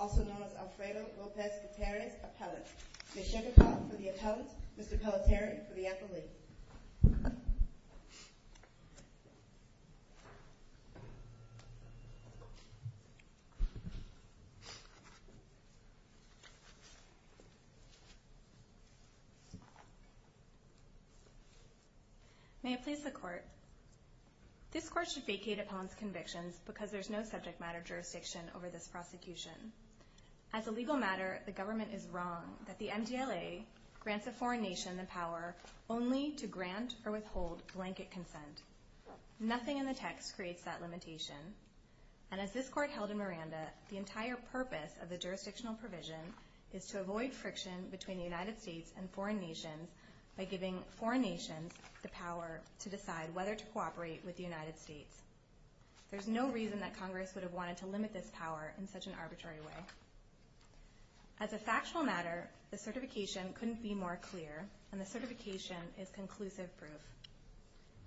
also known as Alfredo Lopez Gutierrez, appellant. Ms. Shekhar for the appellant, Mr. Pelletier for the appellate. May it please the court. This court should vacate upon its convictions because there is no subject matter jurisdiction over this prosecution. As a legal matter, the government is wrong that the MDLA grants a foreign nation the power only to grant or withhold blanket consent. Nothing in the text creates that limitation. And as this court held in Miranda, the entire purpose of the jurisdictional provision is to avoid friction between the United States and foreign nations by giving foreign nations the power to decide whether to cooperate with the United States. There's no reason that Congress would have wanted to limit this power in such an arbitrary way. As a factual matter, the certification couldn't be more clear, and the certification is conclusive proof.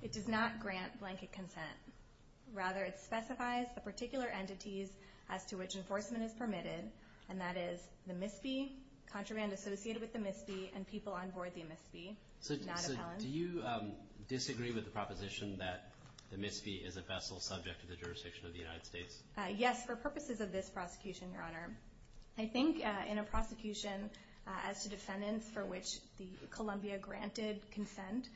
It does not grant blanket consent. Rather, it specifies the particular entities as to which enforcement is permitted, and that is the MISB, contraband associated with the MISB, and people on board the MISB, not appellant. So do you disagree with the proposition that the MISB is a vessel subject to the jurisdiction of the United States? Yes, for purposes of this prosecution, Your Honor. I think in a prosecution as to defendants for which Columbia granted consent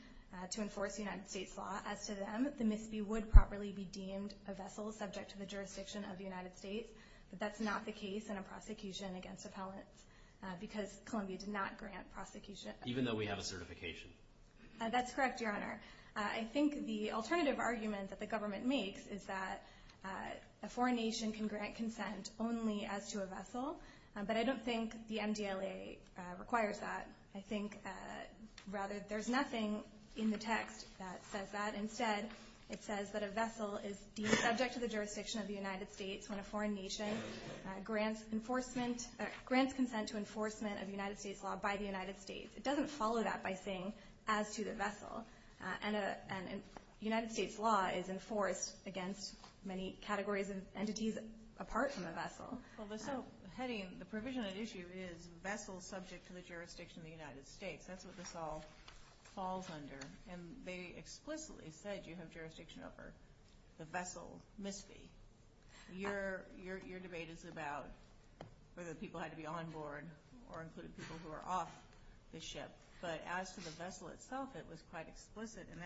to enforce United States law, as to them, the MISB would properly be deemed a vessel subject to the jurisdiction of the United States, but that's not the case in a prosecution against appellants because Columbia did not grant prosecution. Even though we have a certification? That's correct, Your Honor. I think the alternative argument that the government makes is that a foreign nation can grant consent only as to a vessel, but I don't think the MDLA requires that. I think, rather, there's nothing in the text that says that. Instead, it says that a vessel is deemed subject to the jurisdiction of the United States when a foreign nation grants consent to enforcement of United States law by the United States. It doesn't follow that by saying as to the vessel, and United States law is enforced against many categories of entities apart from a vessel. Well, the provision at issue is vessels subject to the jurisdiction of the United States. That's what this all falls under, and they explicitly said you have jurisdiction over the vessel MISB. Your debate is about whether people had to be on board or included people who are off the ship, but as to the vessel itself, it was quite explicit, and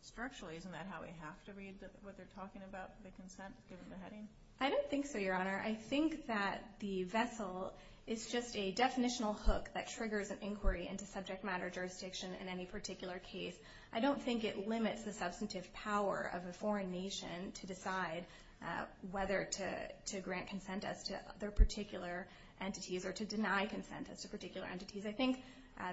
structurally isn't that how we have to read what they're talking about, the consent, given the heading? I don't think so, Your Honor. I think that the vessel is just a definitional hook that triggers an inquiry into subject matter jurisdiction in any particular case. I don't think it limits the substantive power of a foreign nation to decide whether to grant consent as to their particular entities or to deny consent as to particular entities. I think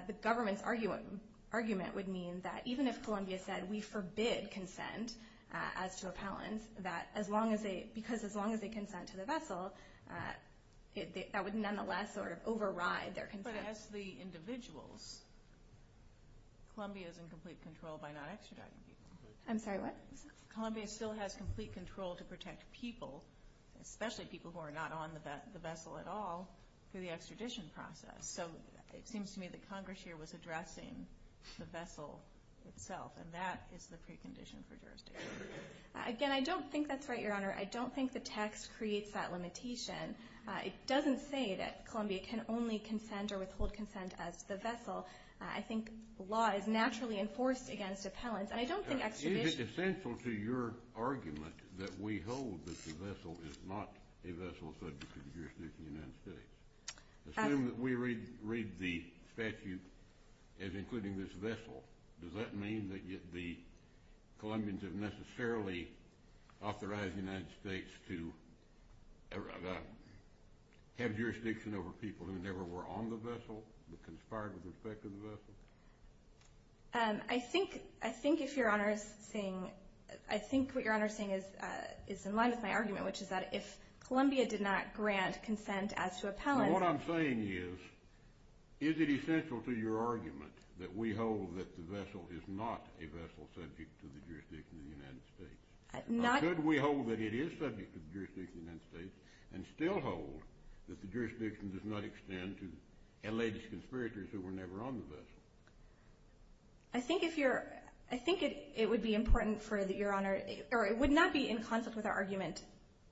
the government's argument would mean that even if Columbia said we forbid consent as to appellants, because as long as they consent to the vessel, that would nonetheless override their consent. But as the individuals, Columbia is in complete control by not extraditing people. I'm sorry, what? Columbia still has complete control to protect people, especially people who are not on the vessel at all, through the extradition process. So it seems to me that Congress here was addressing the vessel itself, and that is the precondition for jurisdiction. Again, I don't think that's right, Your Honor. I don't think the text creates that limitation. It doesn't say that Columbia can only consent or withhold consent as to the vessel. I think law is naturally enforced against appellants, and I don't think extradition— Is it essential to your argument that we hold that the vessel is not a vessel subject to jurisdiction in the United States? Assume that we read the statute as including this vessel. Does that mean that the Columbians have necessarily authorized the United States to have jurisdiction over people who never were on the vessel but conspired with respect to the vessel? I think what Your Honor is saying is in line with my argument, which is that if Columbia did not grant consent as to appellants— that the vessel is not a vessel subject to the jurisdiction of the United States. Could we hold that it is subject to the jurisdiction of the United States and still hold that the jurisdiction does not extend to alleged conspirators who were never on the vessel? I think it would be important for Your Honor— or it would not be in conflict with our argument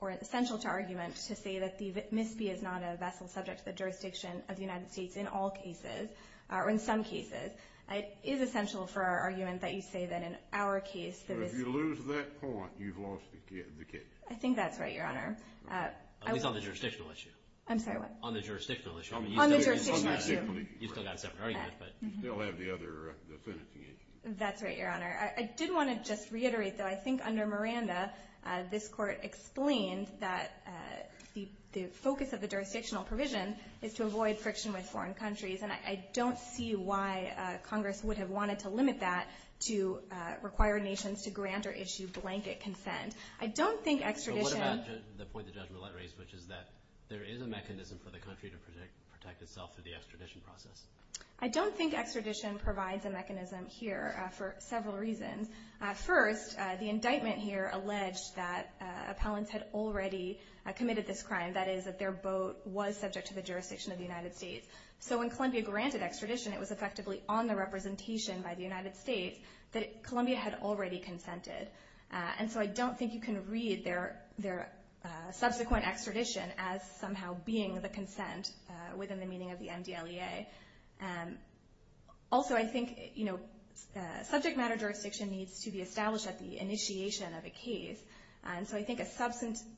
or essential to our argument to say that the MISB is not a vessel subject to the jurisdiction of the United States in all cases, or in some cases. It is essential for our argument that you say that in our case— So if you lose that point, you've lost the case. I think that's right, Your Honor. At least on the jurisdictional issue. I'm sorry, what? On the jurisdictional issue. On the jurisdictional issue. You've still got a separate argument, but— You still have the other definitive issue. That's right, Your Honor. I did want to just reiterate, though, I think under Miranda, this Court explained that the focus of the jurisdictional provision is to avoid friction with foreign countries, and I don't see why Congress would have wanted to limit that to require nations to grant or issue blanket consent. I don't think extradition— But what about the point that Judge Millett raised, which is that there is a mechanism for the country to protect itself through the extradition process? I don't think extradition provides a mechanism here for several reasons. First, the indictment here alleged that appellants had already committed this crime, that is, that their boat was subject to the jurisdiction of the United States. So when Columbia granted extradition, it was effectively on the representation by the United States that Columbia had already consented. And so I don't think you can read their subsequent extradition as somehow being the consent within the meaning of the MDLEA. Also, I think subject matter jurisdiction needs to be established at the initiation of a case, and so I think a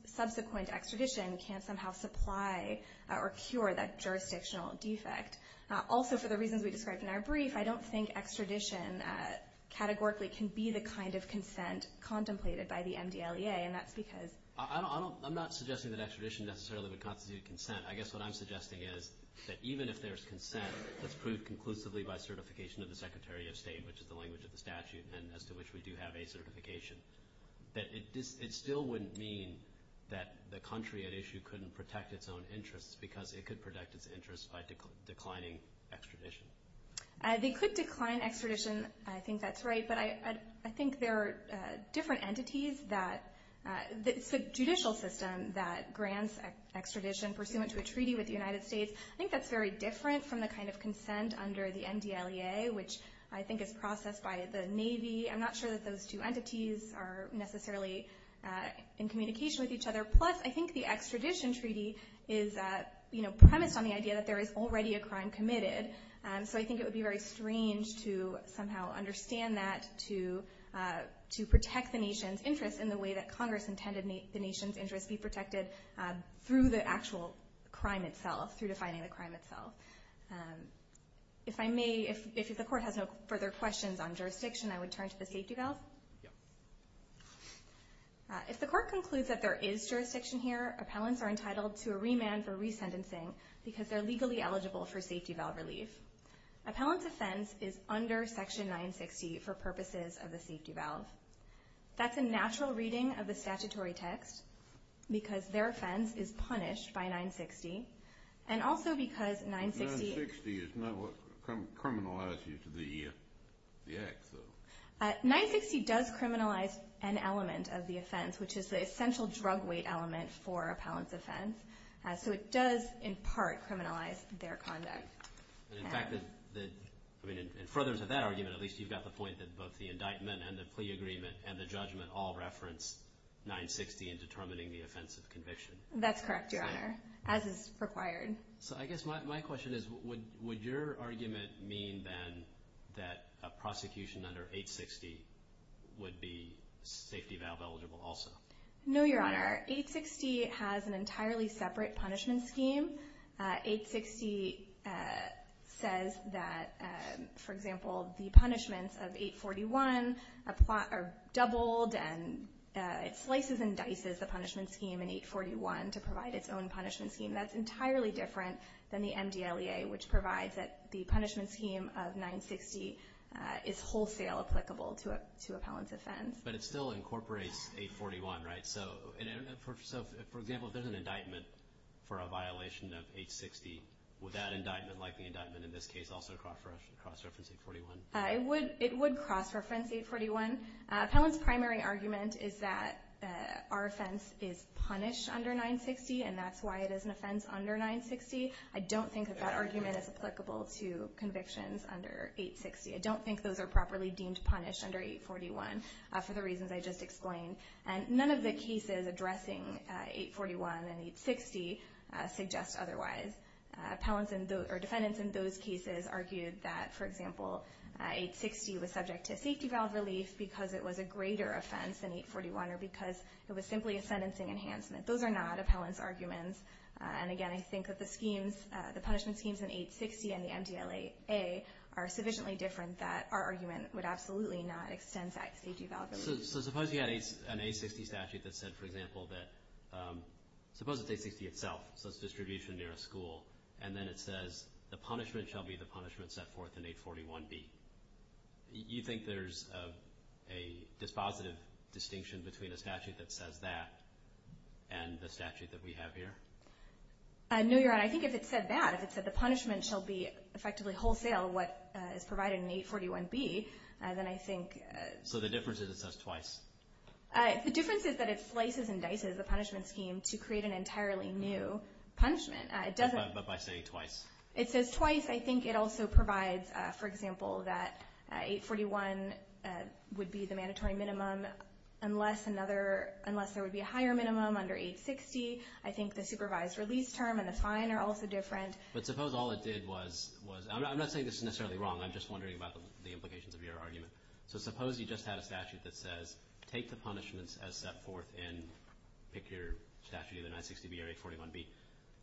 subsequent extradition can somehow supply or cure that jurisdictional defect. Also, for the reasons we described in our brief, I don't think extradition categorically can be the kind of consent contemplated by the MDLEA, and that's because— I'm not suggesting that extradition necessarily would constitute consent. I guess what I'm suggesting is that even if there's consent that's proved conclusively by certification of the Secretary of State, which is the language of the statute and as to which we do have a certification, that it still wouldn't mean that the country at issue couldn't protect its own interests because it could protect its interests by declining extradition. They could decline extradition. I think that's right, but I think there are different entities that— the judicial system that grants extradition pursuant to a treaty with the United States, I think that's very different from the kind of consent under the MDLEA, which I think is processed by the Navy. I'm not sure that those two entities are necessarily in communication with each other. Plus, I think the extradition treaty is premised on the idea that there is already a crime committed, so I think it would be very strange to somehow understand that to protect the nation's interests in the way that Congress intended the nation's interests be protected through the actual crime itself, through defining the crime itself. If I may, if the court has no further questions on jurisdiction, I would turn to the safety valve. Yeah. If the court concludes that there is jurisdiction here, appellants are entitled to a remand for resentencing because they're legally eligible for safety valve relief. Appellant's offense is under Section 960 for purposes of the safety valve. That's a natural reading of the statutory text because their offense is punished by 960 and also because 960- 960 is not what criminalizes the act, though. 960 does criminalize an element of the offense, which is the essential drug weight element for appellant's offense. So it does, in part, criminalize their conduct. In fact, in furtherance of that argument, at least you've got the point that both the indictment and the plea agreement and the judgment all reference 960 in determining the offense of conviction. That's correct, Your Honor, as is required. So I guess my question is would your argument mean then that a prosecution under 860 would be safety valve eligible also? No, Your Honor. 860 has an entirely separate punishment scheme. 860 says that, for example, the punishments of 841 are doubled and it slices and dices the punishment scheme in 841 to provide its own punishment scheme. That's entirely different than the MDLEA, which provides that the punishment scheme of 960 is wholesale applicable to appellant's offense. But it still incorporates 841, right? So, for example, if there's an indictment for a violation of 860, would that indictment, like the indictment in this case, also cross-reference 841? It would cross-reference 841. Appellant's primary argument is that our offense is punished under 960, and that's why it is an offense under 960. I don't think that that argument is applicable to convictions under 860. I don't think those are properly deemed punished under 841 for the reasons I just explained. And none of the cases addressing 841 and 860 suggest otherwise. Appellants or defendants in those cases argued that, for example, 860 was subject to safety valve relief because it was a greater offense than 841 or because it was simply a sentencing enhancement. Those are not appellant's arguments. And, again, I think that the punishment schemes in 860 and the MDLEA are sufficiently different that our argument would absolutely not extend that safety valve relief. So suppose you had an 860 statute that said, for example, that suppose it's 860 itself, so it's distribution near a school, and then it says the punishment shall be the punishment set forth in 841B. You think there's a dispositive distinction between a statute that says that and the statute that we have here? No, Your Honor. I think if it said that, if it said the punishment shall be effectively wholesale, what is provided in 841B, then I think. So the difference is it says twice? The difference is that it slices and dices the punishment scheme to create an entirely new punishment. But by saying twice? It says twice. I think it also provides, for example, that 841 would be the mandatory minimum unless there would be a higher minimum under 860. I think the supervised release term and the fine are also different. But suppose all it did was... I'm not saying this is necessarily wrong. I'm just wondering about the implications of your argument. So suppose you just had a statute that says take the punishments as set forth and pick your statute either 960B or 841B.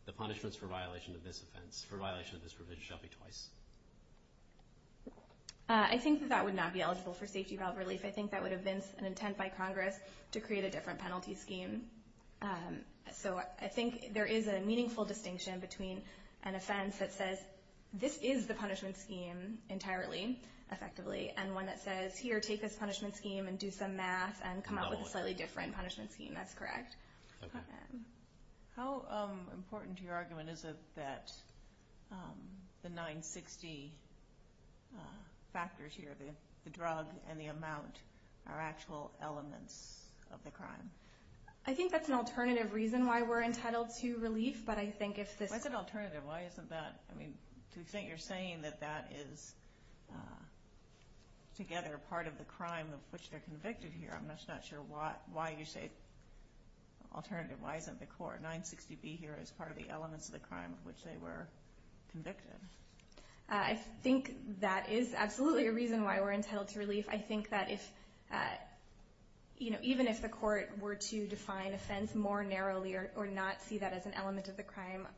The punishments for violation of this provision shall be twice. I think that that would not be eligible for safety valve relief. I think that would have been an intent by Congress to create a different penalty scheme. So I think there is a meaningful distinction between an offense that says that this is the punishment scheme entirely, effectively, and one that says here, take this punishment scheme and do some math and come up with a slightly different punishment scheme. That's correct. How important to your argument is it that the 960 factors here, the drug and the amount, are actual elements of the crime? I think that's an alternative reason why we're entitled to relief, but I think if this... Why isn't that? I mean, to the extent you're saying that that is together part of the crime of which they're convicted here, I'm just not sure why you say alternative. Why isn't the court, 960B here, as part of the elements of the crime of which they were convicted? I think that is absolutely a reason why we're entitled to relief. I think that even if the court were to define offense more narrowly or not see that as an element of the crime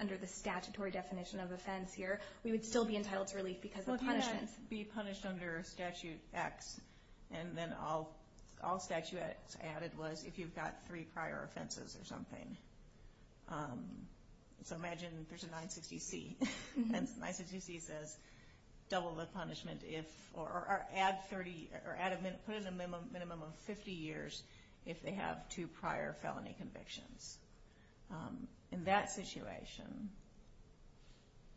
under the statutory definition of offense here, we would still be entitled to relief because of punishments. Well, do that be punished under Statute X, and then all Statute X added was if you've got three prior offenses or something. So imagine there's a 960C, and 960C says double the punishment if, or put in a minimum of 50 years if they have two prior felony convictions. In that situation,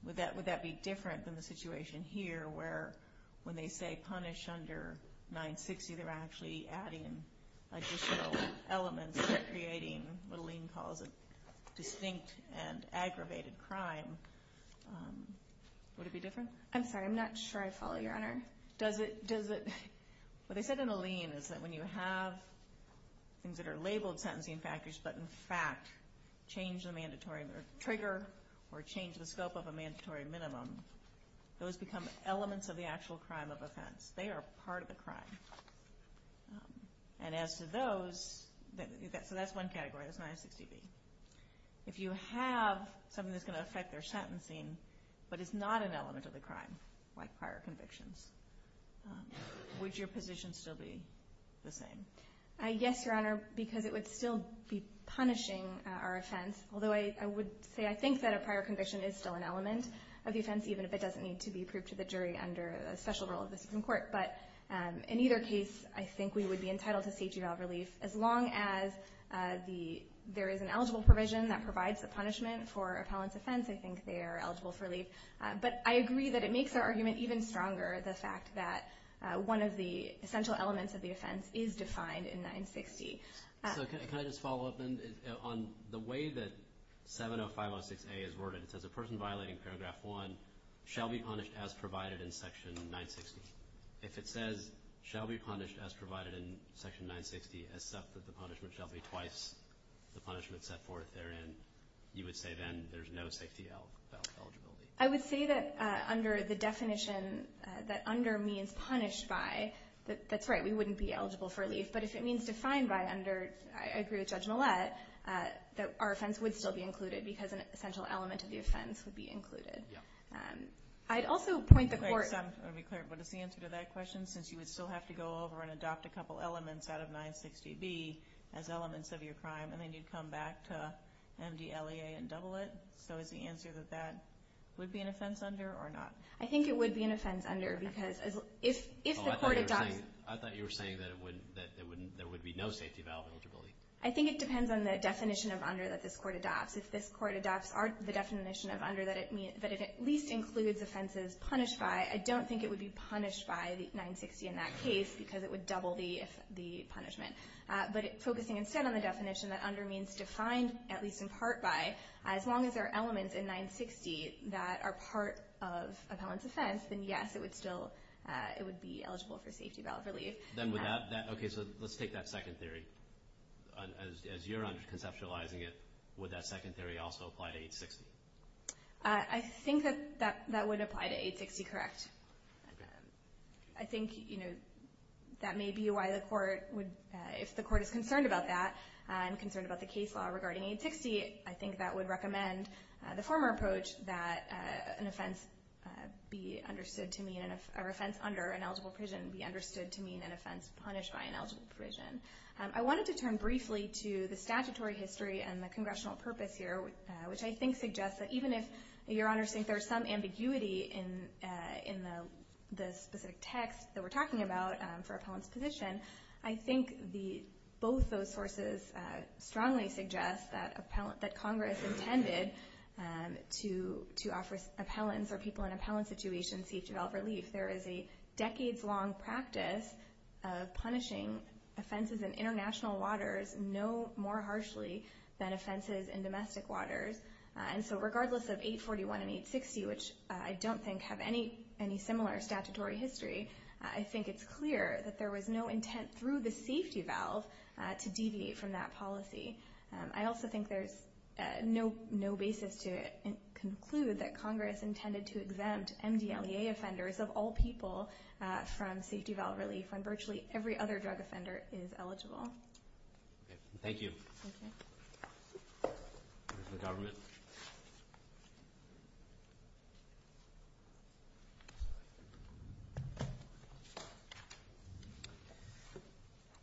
would that be different than the situation here where when they say punish under 960, they're actually adding additional elements, creating what Alene calls a distinct and aggravated crime. Would it be different? I'm sorry, I'm not sure I follow, Your Honor. Does it? What they said in Alene is that when you have things that are labeled sentencing factors, but in fact change the mandatory trigger or change the scope of a mandatory minimum, those become elements of the actual crime of offense. They are part of the crime. And as to those, so that's one category, that's 960B. If you have something that's going to affect their sentencing but is not an element of the crime, like prior convictions, would your position still be the same? Yes, Your Honor, because it would still be punishing our offense, although I would say I think that a prior conviction is still an element of the offense, even if it doesn't need to be approved to the jury under a special rule of the Supreme Court. But in either case, I think we would be entitled to safety valve relief as long as there is an eligible provision that provides the punishment for appellant's offense. I think they are eligible for relief. But I agree that it makes our argument even stronger, the fact that one of the essential elements of the offense is defined in 960. So can I just follow up on the way that 70506A is worded? It says a person violating Paragraph 1 shall be punished as provided in Section 960. If it says, shall be punished as provided in Section 960, except that the punishment shall be twice the punishment set forth therein, you would say then there's no safety valve eligibility? I would say that under the definition that under means punished by, that's right, we wouldn't be eligible for relief. But if it means defined by under, I agree with Judge Millett, that our offense would still be included because an essential element of the offense would be included. Yeah. I'd also point the court— Just to be clear, what is the answer to that question? Since you would still have to go over and adopt a couple elements out of 960B as elements of your crime, and then you'd come back to MDLEA and double it? So is the answer that that would be an offense under or not? I think it would be an offense under because if the court adopts— I thought you were saying that there would be no safety valve eligibility. I think it depends on the definition of under that this court adopts. If this court adopts the definition of under, that it at least includes offenses punished by, I don't think it would be punished by 960 in that case because it would double the punishment. But focusing instead on the definition that under means defined at least in part by, as long as there are elements in 960 that are part of a felon's offense, then yes, it would be eligible for safety valve relief. Okay, so let's take that second theory. As you're conceptualizing it, would that second theory also apply to 860? I think that that would apply to 860, correct. I think that may be why the court would—if the court is concerned about that and concerned about the case law regarding 860, I think that would recommend the former approach that an offense be understood to mean— I wanted to turn briefly to the statutory history and the congressional purpose here, which I think suggests that even if your honors think there's some ambiguity in the specific text that we're talking about for appellant's position, I think both those sources strongly suggest that Congress intended to offer appellants or people in appellant situations safety valve relief. There is a decades-long practice of punishing offenses in international waters no more harshly than offenses in domestic waters. And so regardless of 841 and 860, which I don't think have any similar statutory history, I think it's clear that there was no intent through the safety valve to deviate from that policy. I also think there's no basis to conclude that Congress intended to exempt MDLEA offenders of all people from safety valve relief when virtually every other drug offender is eligible. Thank you. The government.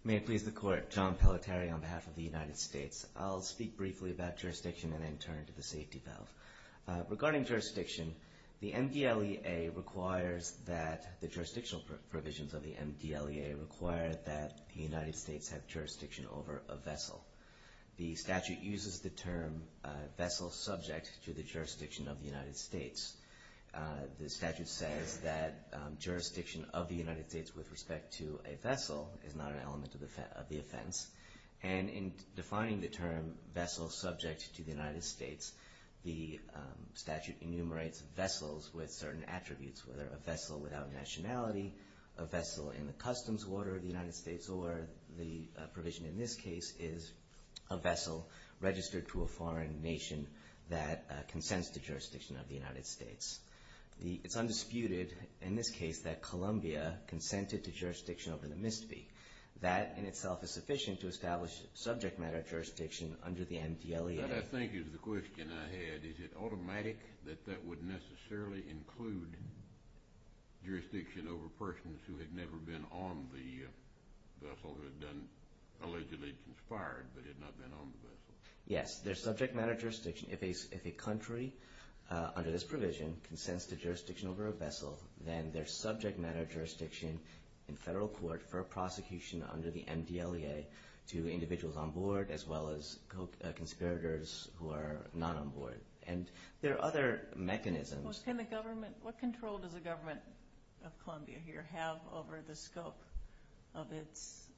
May it please the Court. John Pelletieri on behalf of the United States. I'll speak briefly about jurisdiction and then turn to the safety valve. Regarding jurisdiction, the MDLEA requires that the jurisdictional provisions of the MDLEA require that the United States have jurisdiction over a vessel. The statute uses the term vessel subject to the jurisdiction of the United States. The statute says that jurisdiction of the United States with respect to a vessel is not an element of the offense. And in defining the term vessel subject to the United States, the statute enumerates vessels with certain attributes, whether a vessel without nationality, a vessel in the customs order of the United States, or the provision in this case is a vessel registered to a foreign nation that consents to jurisdiction of the United States. It's undisputed in this case that Colombia consented to jurisdiction over the MISTI. That in itself is sufficient to establish subject matter jurisdiction under the MDLEA. That I think is the question I had. Is it automatic that that would necessarily include jurisdiction over persons who had never been on the vessel, who had done allegedly conspired but had not been on the vessel? Yes, there's subject matter jurisdiction. If a country under this provision consents to jurisdiction over a vessel, then there's subject matter jurisdiction in federal court for a prosecution under the MDLEA to individuals on board as well as conspirators who are not on board. And there are other mechanisms. What control does the government of Colombia here have over the scope of its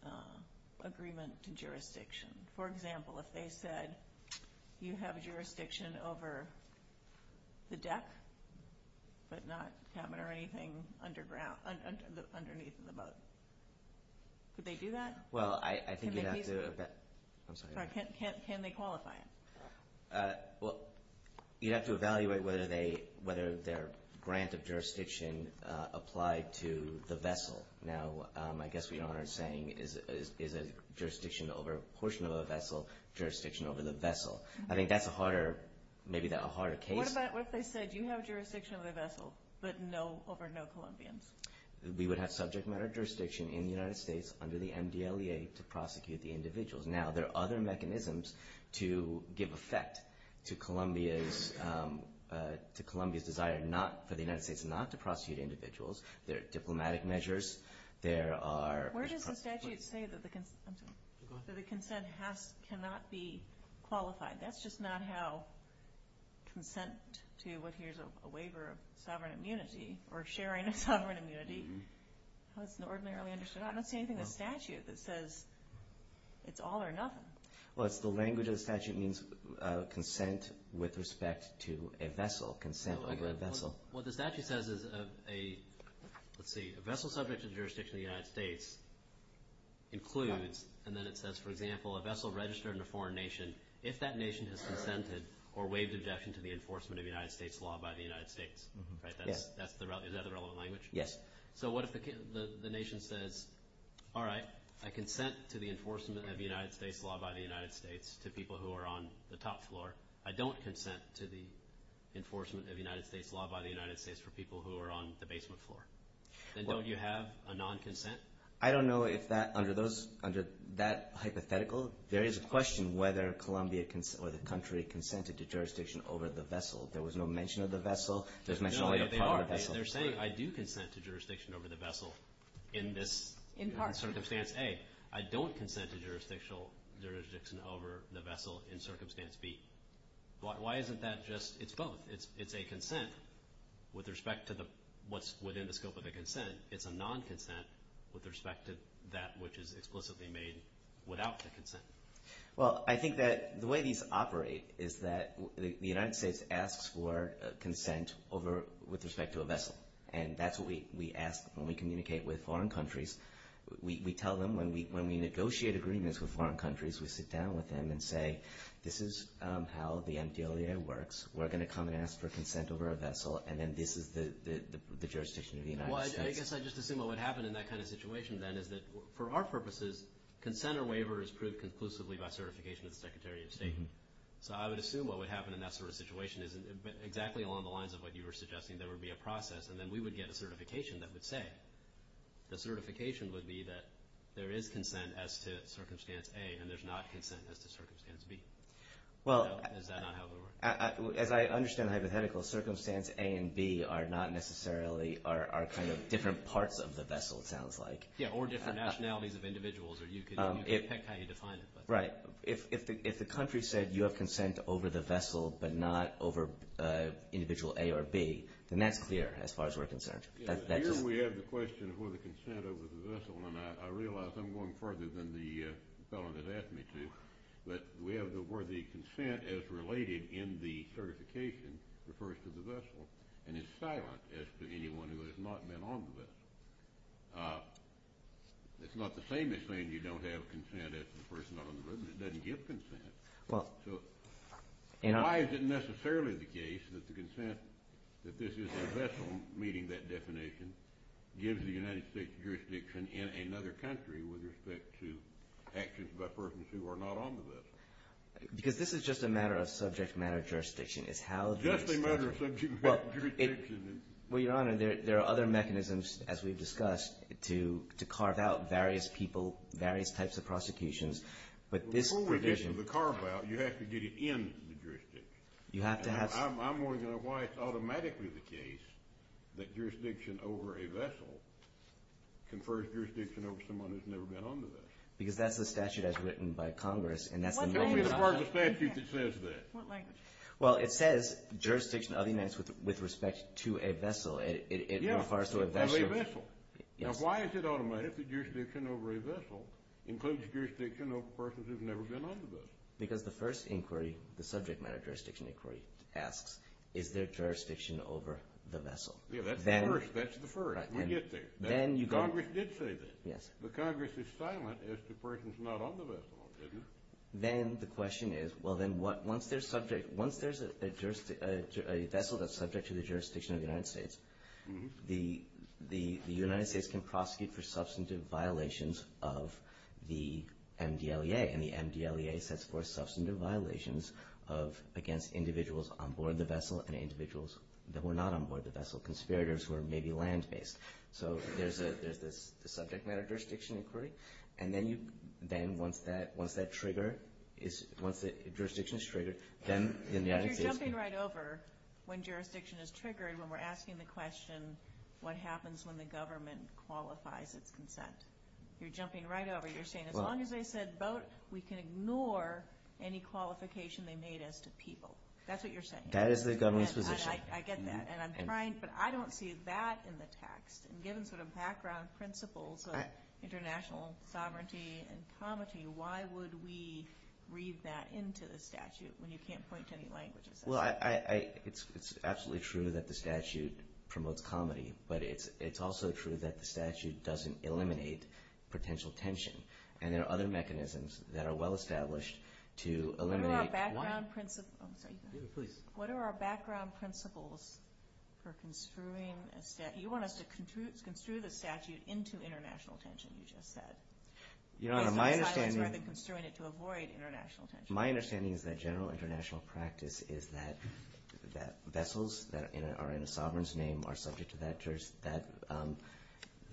agreement to jurisdiction? For example, if they said you have jurisdiction over the deck, but not cabin or anything underneath the boat, could they do that? Well, I think you'd have to— I'm sorry. Can they qualify it? Well, you'd have to evaluate whether their grant of jurisdiction applied to the vessel. Now, I guess what Your Honor is saying is a jurisdiction over a portion of a vessel, jurisdiction over the vessel. I think that's a harder—maybe a harder case. What if they said you have jurisdiction over the vessel, but over no Colombians? We would have subject matter jurisdiction in the United States under the MDLEA to prosecute the individuals. Now, there are other mechanisms to give effect to Colombia's desire for the United States not to prosecute individuals. There are diplomatic measures. There are— Where does the statute say that the consent cannot be qualified? That's just not how consent to what here is a waiver of sovereign immunity or sharing of sovereign immunity is ordinarily understood. I don't see anything in the statute that says it's all or nothing. Well, it's the language of the statute means consent with respect to a vessel, consent over a vessel. What the statute says is a—let's see. A vessel subject to the jurisdiction of the United States includes— and then it says, for example, a vessel registered in a foreign nation, if that nation has consented or waived objection to the enforcement of United States law by the United States. Is that the relevant language? Yes. So what if the nation says, all right, I consent to the enforcement of United States law by the United States to people who are on the top floor. I don't consent to the enforcement of United States law by the United States for people who are on the basement floor. Then don't you have a non-consent? I don't know if that—under those—under that hypothetical, there is a question whether Colombia or the country consented to jurisdiction over the vessel. There was no mention of the vessel. There's mention only of part of the vessel. They're saying I do consent to jurisdiction over the vessel in this— In part. In circumstance A, I don't consent to jurisdiction over the vessel in circumstance B. Why isn't that just—it's both. It's a consent with respect to what's within the scope of the consent. It's a non-consent with respect to that which is explicitly made without the consent. Well, I think that the way these operate is that the United States asks for consent over—with respect to a vessel. And that's what we ask when we communicate with foreign countries. We tell them when we negotiate agreements with foreign countries, we sit down with them and say this is how the MDLA works. We're going to come and ask for consent over a vessel, and then this is the jurisdiction of the United States. Well, I guess I just assume what would happen in that kind of situation then is that for our purposes, consent or waiver is proved conclusively by certification of the Secretary of State. So I would assume what would happen in that sort of situation is exactly along the lines of what you were suggesting. There would be a process, and then we would get a certification that would say. The certification would be that there is consent as to Circumstance A, and there's not consent as to Circumstance B. Is that not how it would work? As I understand the hypothetical, Circumstance A and B are not necessarily—are kind of different parts of the vessel, it sounds like. Yeah, or different nationalities of individuals, or you can pick how you define it. Right. If the country said you have consent over the vessel but not over individual A or B, then that's clear as far as we're concerned. Here we have the question of whether consent over the vessel, and I realize I'm going further than the fellow that asked me to, but we have the word the consent as related in the certification refers to the vessel, and it's silent as to anyone who has not been on the vessel. It's not the same as saying you don't have consent as to the person not on the vessel. It doesn't give consent. Why is it necessarily the case that the consent that this is a vessel, meaning that definition, gives the United States jurisdiction in another country with respect to actions by persons who are not on the vessel? Because this is just a matter of subject matter jurisdiction. Just a matter of subject matter jurisdiction. Well, Your Honor, there are other mechanisms, as we've discussed, to carve out various people, various types of prosecutions. But this provision of the carve-out, you have to get it in the jurisdiction. You have to have some. I'm wondering why it's automatically the case that jurisdiction over a vessel confers jurisdiction over someone who's never been on the vessel. Because that's the statute as written by Congress, and that's the only part of the statute that says that. What language? Well, it says jurisdiction of the United States with respect to a vessel. Yeah, of a vessel. Now, why is it automatic that jurisdiction over a vessel includes jurisdiction over a person who's never been on the vessel? Because the first inquiry, the subject matter jurisdiction inquiry, asks, is there jurisdiction over the vessel? Yeah, that's the first. That's the first. We get there. Congress did say that. Yes. But Congress is silent as to persons not on the vessel, isn't it? Then the question is, well, then once there's a vessel that's subject to the jurisdiction of the United States, the United States can prosecute for substantive violations of the MDLEA, and the MDLEA sets forth substantive violations against individuals on board the vessel and individuals that were not on board the vessel, conspirators who are maybe land-based. So there's the subject matter jurisdiction inquiry. And then once that trigger is – once the jurisdiction is triggered, then the United States can – But you're jumping right over when jurisdiction is triggered when we're asking the question, what happens when the government qualifies its consent? You're jumping right over. You're saying as long as they said boat, we can ignore any qualification they made as to people. That's what you're saying. That is the government's position. I get that, and I'm trying – but I don't see that in the text. And given sort of background principles of international sovereignty and comity, why would we read that into the statute when you can't point to any languages? Well, it's absolutely true that the statute promotes comity, but it's also true that the statute doesn't eliminate potential tension. And there are other mechanisms that are well-established to eliminate one. What are our background – oh, sorry. What are our background principles for construing a statute? You want us to construe the statute into international tension, you just said. You know, my understanding – It's worth construing it to avoid international tension. My understanding is that general international practice is that vessels that are in a sovereign's name are subject to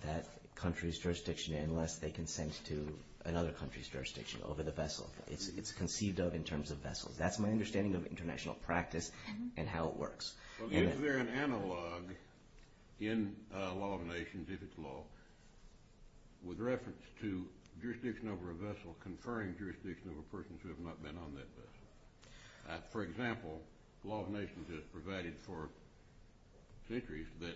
that country's jurisdiction unless they consent to another country's jurisdiction over the vessel. It's conceived of in terms of vessels. That's my understanding of international practice and how it works. Well, is there an analog in law of nations, if it's law, with reference to jurisdiction over a vessel conferring jurisdiction over persons who have not been on that vessel? For example, law of nations has provided for centuries that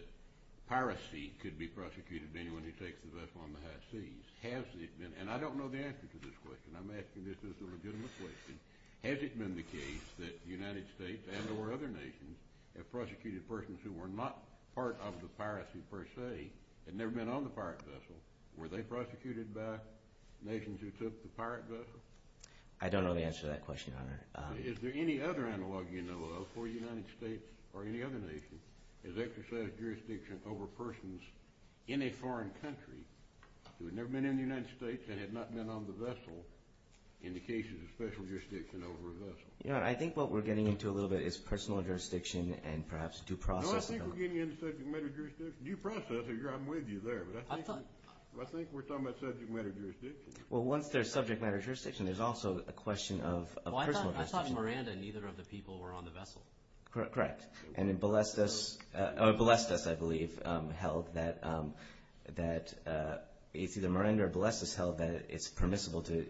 piracy could be prosecuted to anyone who takes the vessel on the high seas. Has it been – and I don't know the answer to this question. I'm asking this as a legitimate question. Has it been the case that the United States and or other nations have prosecuted persons who were not part of the piracy per se and never been on the pirate vessel? Were they prosecuted by nations who took the pirate vessel? I don't know the answer to that question, Your Honor. Is there any other analog you know of where the United States or any other nation has exercised jurisdiction over persons in a foreign country who had never been in the United States and had not been on the vessel in the cases of special jurisdiction over a vessel? Your Honor, I think what we're getting into a little bit is personal jurisdiction and perhaps due process. No, I think we're getting into subject matter jurisdiction. Due process, I'm with you there, but I think we're talking about subject matter jurisdiction. Well, once there's subject matter jurisdiction, there's also a question of personal jurisdiction. Well, I thought Miranda and either of the people were on the vessel. Correct. Correct. And then Balestas, I believe, held that it's either Miranda or Balestas held that it's permissible to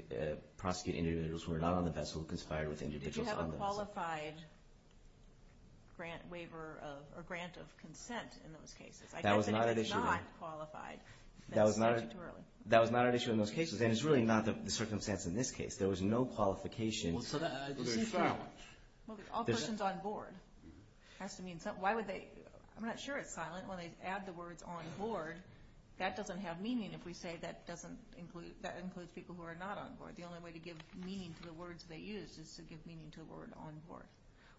prosecute individuals who were not on the vessel who conspired with individuals on the vessel. Did you have a qualified grant waiver or grant of consent in those cases? I guess it is not qualified. That was not at issue in those cases, and it's really not the circumstance in this case. There was no qualification. All persons on board. I'm not sure it's silent when they add the words on board. That doesn't have meaning if we say that includes people who are not on board. The only way to give meaning to the words they use is to give meaning to the word on board.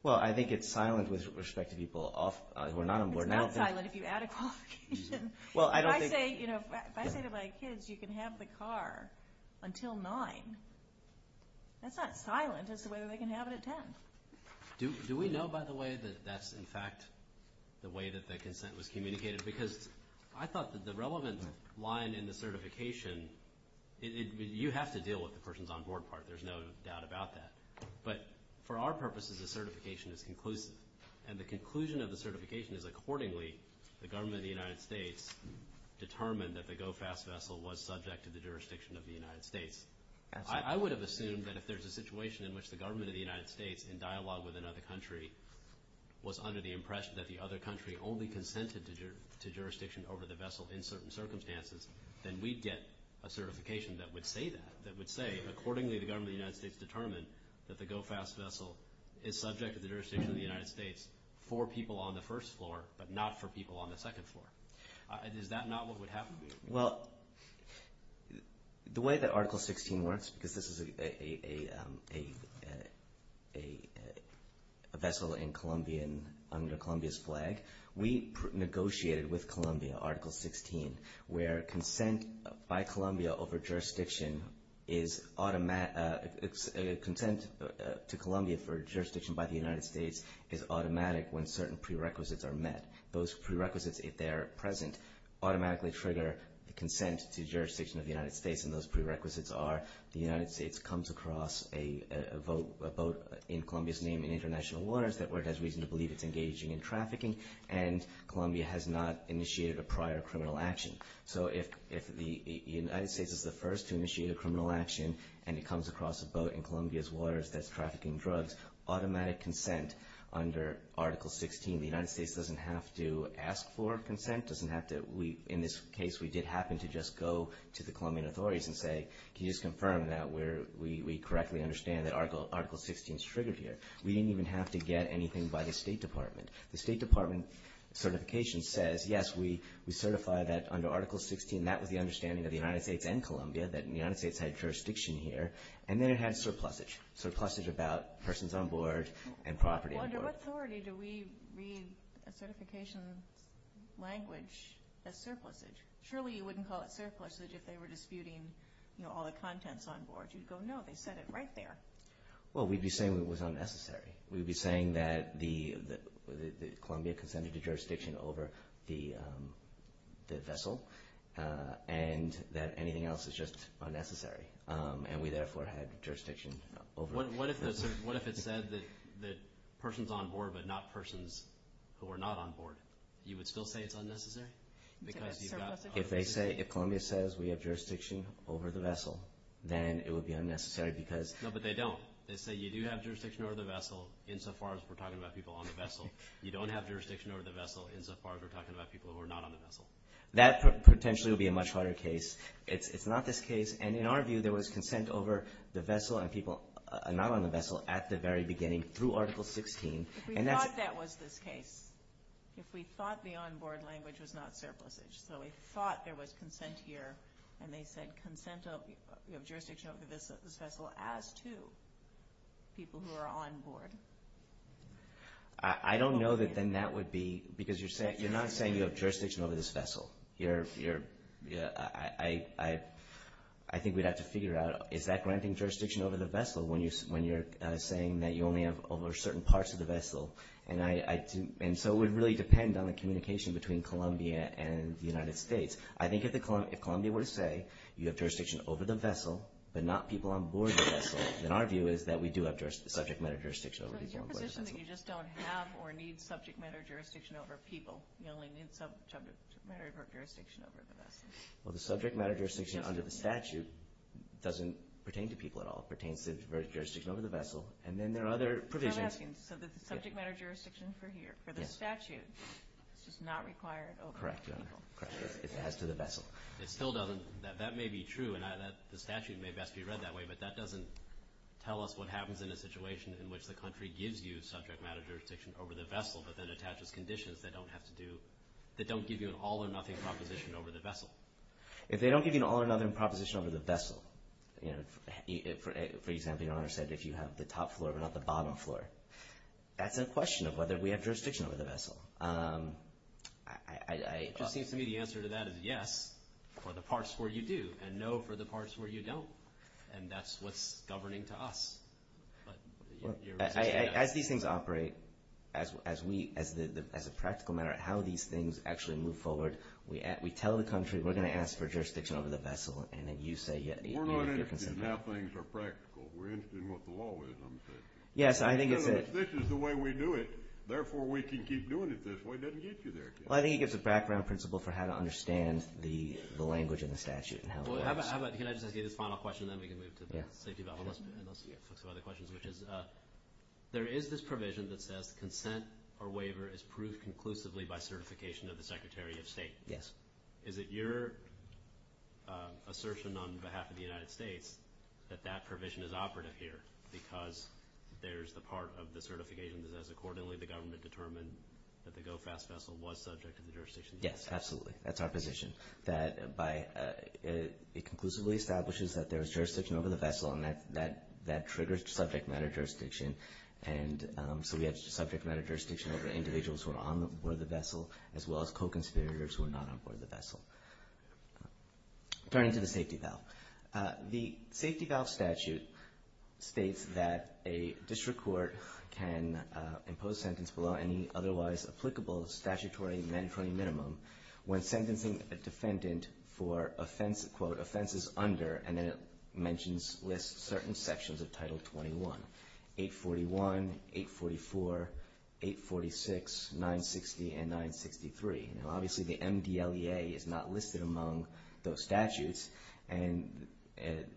Well, I think it's silent with respect to people who are not on board. It's not silent if you add a qualification. If I say to my kids, you can have the car until 9, that's not silent. That's the way they can have it at 10. Do we know, by the way, that that's, in fact, the way that the consent was communicated? Because I thought that the relevant line in the certification, you have to deal with the person's on board part. There's no doubt about that. But for our purposes, the certification is conclusive. And the conclusion of the certification is, accordingly, the government of the United States determined that the GO-FAST vessel was subject to the jurisdiction of the United States. I would have assumed that if there's a situation in which the government of the United States, in dialogue with another country, was under the impression that the other country only consented to jurisdiction over the vessel in certain circumstances, then we'd get a certification that would say that, that would say, accordingly, the government of the United States determined that the GO-FAST vessel is subject to the jurisdiction of the United States for people on the first floor, but not for people on the second floor. Is that not what would happen? Well, the way that Article 16 works, because this is a vessel in Colombia under Colombia's flag, we negotiated with Colombia, Article 16, where consent by Colombia over jurisdiction is automatic. Consent to Colombia for jurisdiction by the United States is automatic when certain prerequisites are met. Those prerequisites, if they're present, automatically trigger consent to jurisdiction of the United States, and those prerequisites are the United States comes across a boat in Colombia's name in international waters that it has reason to believe it's engaging in trafficking, and Colombia has not initiated a prior criminal action. So if the United States is the first to initiate a criminal action, and it comes across a boat in Colombia's waters that's trafficking drugs, automatic consent under Article 16, the United States doesn't have to ask for consent, doesn't have to. In this case, we did happen to just go to the Colombian authorities and say, can you just confirm that we correctly understand that Article 16 is triggered here? We didn't even have to get anything by the State Department. The State Department certification says, yes, we certify that under Article 16, that was the understanding of the United States and Colombia, that the United States had jurisdiction here, and then it had surplusage, surplusage about persons on board and property on board. Well, under what authority do we read a certification language as surplusage? Surely you wouldn't call it surplusage if they were disputing all the contents on board. You'd go, no, they said it right there. Well, we'd be saying it was unnecessary. We'd be saying that Colombia consented to jurisdiction over the vessel and that anything else is just unnecessary, and we therefore had jurisdiction over it. What if it said that persons on board but not persons who are not on board? You would still say it's unnecessary? If they say, if Colombia says we have jurisdiction over the vessel, then it would be unnecessary because – No, but they don't. They say you do have jurisdiction over the vessel insofar as we're talking about people on the vessel. You don't have jurisdiction over the vessel insofar as we're talking about people who are not on the vessel. That potentially would be a much harder case. It's not this case. In our view, there was consent over the vessel and people not on the vessel at the very beginning through Article 16. If we thought that was this case, if we thought the on-board language was not surplusage, so we thought there was consent here, and they said, you have jurisdiction over this vessel as to people who are on board. I don't know that then that would be – because you're not saying you have jurisdiction over this vessel. I think we'd have to figure out, is that granting jurisdiction over the vessel when you're saying that you only have over certain parts of the vessel? And so it would really depend on the communication between Colombia and the United States. I think if Colombia were to say you have jurisdiction over the vessel but not people on board the vessel, then our view is that we do have subject matter jurisdiction over people on board the vessel. So it's your position that you just don't have or need subject matter jurisdiction over people? You only need subject matter jurisdiction over the vessel? Well, the subject matter jurisdiction under the statute doesn't pertain to people at all. It pertains to jurisdiction over the vessel. And then there are other provisions. So I'm asking, so the subject matter jurisdiction for the statute is just not required over people? Correct, Your Honor. Correct. As to the vessel. It still doesn't – that may be true, and the statute may best be read that way, but that doesn't tell us what happens in a situation in which the country gives you that don't give you an all-or-nothing proposition over the vessel. If they don't give you an all-or-nothing proposition over the vessel, for example, Your Honor said if you have the top floor but not the bottom floor, that's a question of whether we have jurisdiction over the vessel. It just seems to me the answer to that is yes for the parts where you do and no for the parts where you don't, and that's what's governing to us. As these things operate, as a practical matter, how these things actually move forward, we tell the country we're going to ask for jurisdiction over the vessel, and then you say you're interested. We're not interested in how things are practical. We're interested in what the law is, I'm saying. Yes, I think it's a – This is the way we do it. Therefore, we can keep doing it this way. It doesn't get you there. Well, I think it gives a background principle for how to understand the language in the statute. Well, how about – can I just ask you this final question, and then we can move to the safety of the vessel, and let's focus on other questions, which is there is this provision that says consent or waiver is proved conclusively by certification of the Secretary of State. Yes. Is it your assertion on behalf of the United States that that provision is operative here because there's the part of the certification that says, accordingly, the government determined that the GO-FAST vessel was subject to the jurisdiction? Yes, absolutely. That's our position. That by – it conclusively establishes that there is jurisdiction over the vessel, and that triggers subject matter jurisdiction. And so we have subject matter jurisdiction over individuals who are on board the vessel as well as co-conspirators who are not on board the vessel. Turning to the safety valve. The safety valve statute states that a district court can impose sentence below any otherwise applicable statutory mandatory minimum when sentencing a defendant for, quote, offenses under – and then it mentions – lists certain sections of Title 21, 841, 844, 846, 960, and 963. Now, obviously, the MDLEA is not listed among those statutes, and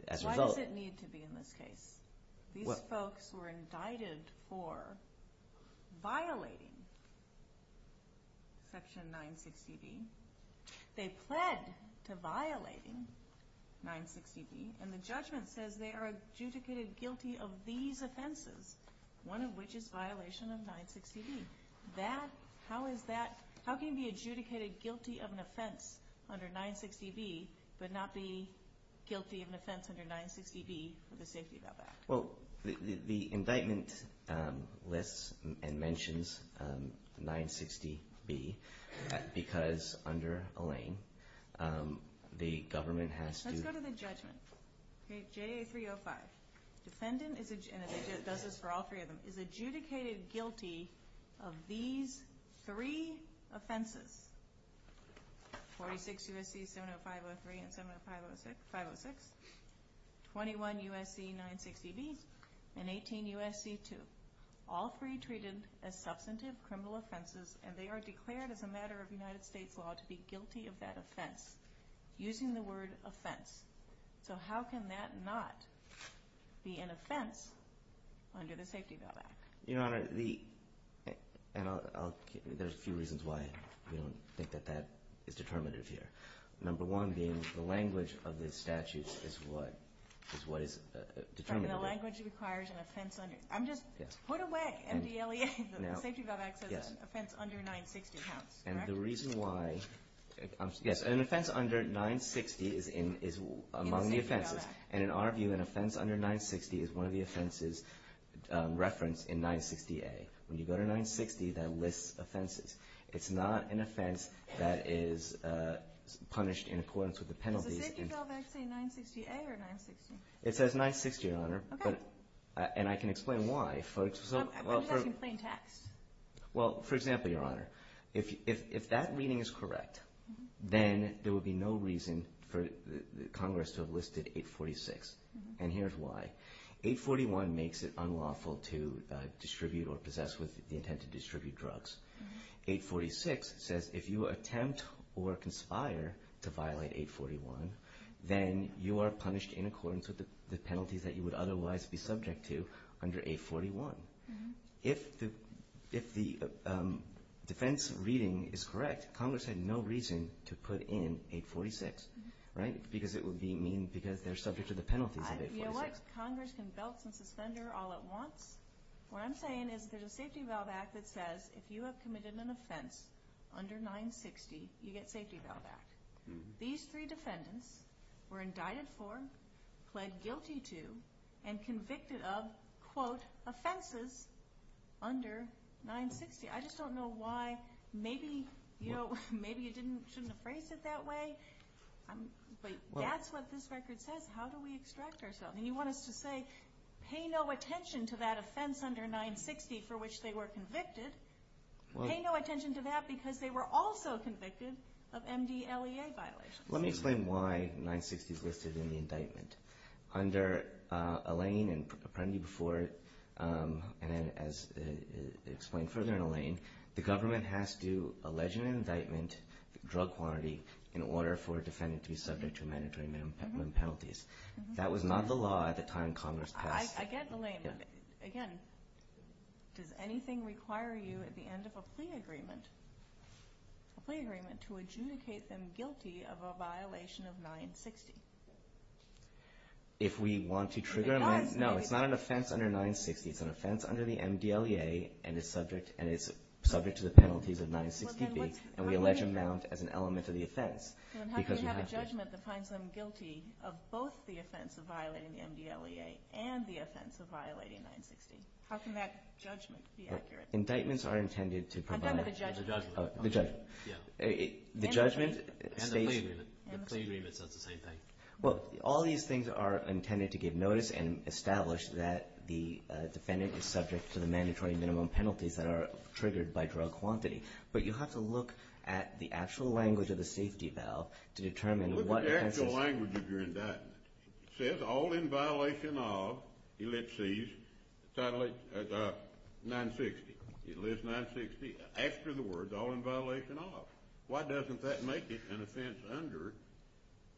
as a result – Why does it need to be in this case? These folks were indicted for violating Section 960B. They pled to violating 960B, and the judgment says they are adjudicated guilty of these offenses, one of which is violation of 960B. That – how is that – how can you be adjudicated guilty of an offense under 960B but not be guilty of an offense under 960B for the safety valve act? Well, the indictment lists and mentions 960B because under Elaine, the government has to – Let's go to the judgment. Okay, JA305. Defendant is – and it does this for all three of them – is adjudicated guilty of these three offenses. 46 U.S.C. 70503 and 70506, 21 U.S.C. 960B, and 18 U.S.C. 2. All three treated as substantive criminal offenses, and they are declared as a matter of United States law to be guilty of that offense, using the word offense. So how can that not be an offense under the safety valve act? Your Honor, the – and I'll – there's a few reasons why we don't think that that is determinative here. Number one being the language of the statute is what is determinative. The language requires an offense under – I'm just – put away MDLEA. The safety valve act says offense under 960 counts, correct? And the reason why – yes, an offense under 960 is among the offenses. And in our view, an offense under 960 is one of the offenses referenced in 960A. When you go to 960, that lists offenses. It's not an offense that is punished in accordance with the penalties. Does the safety valve act say 960A or 960? It says 960, Your Honor. Okay. And I can explain why. I'm just asking plain text. Well, for example, Your Honor, if that reading is correct, then there would be no reason for Congress to have listed 846. And here's why. 841 makes it unlawful to distribute or possess with the intent to distribute drugs. 846 says if you attempt or conspire to violate 841, then you are punished in accordance with the penalties that you would otherwise be subject to under 841. If the defense reading is correct, Congress had no reason to put in 846, right? Because it would mean they're subject to the penalties of 846. You know what? Congress can belt and suspend her all at once. What I'm saying is there's a safety valve act that says if you have committed an offense under 960, you get safety valve act. These three defendants were indicted for, pled guilty to, and convicted of, quote, offenses under 960. I just don't know why. Maybe, you know, maybe you shouldn't have phrased it that way. But that's what this record says. How do we extract ourselves? And you want us to say pay no attention to that offense under 960 for which they were convicted. Pay no attention to that because they were also convicted of MDLEA violations. Let me explain why 960 is listed in the indictment. Under Alain and Apprendi before, and as explained further in Alain, the government has to allege an indictment, drug quantity, in order for a defendant to be subject to mandatory minimum penalties. That was not the law at the time Congress passed. I get Alain. Again, does anything require you at the end of a plea agreement, a plea agreement to adjudicate them guilty of a violation of 960? If we want to trigger an offense. No, it's not an offense under 960. It's an offense under the MDLEA, and it's subject to the penalties of 960B, and we allege an amount as an element of the offense because we have to. Then how do you have a judgment that finds them guilty of both the offense of violating the MDLEA and the offense of violating 960? How can that judgment be accurate? Indictments are intended to provide. I'm talking about the judgment. The judgment. The judgment states. And the plea agreement says the same thing. Well, all these things are intended to give notice and establish that the defendant is subject to the mandatory minimum penalties that are triggered by drug quantity, but you have to look at the actual language of the safety valve to determine what... He let's see... 960. It lists 960 after the words, all in violation of. Why doesn't that make it an offense under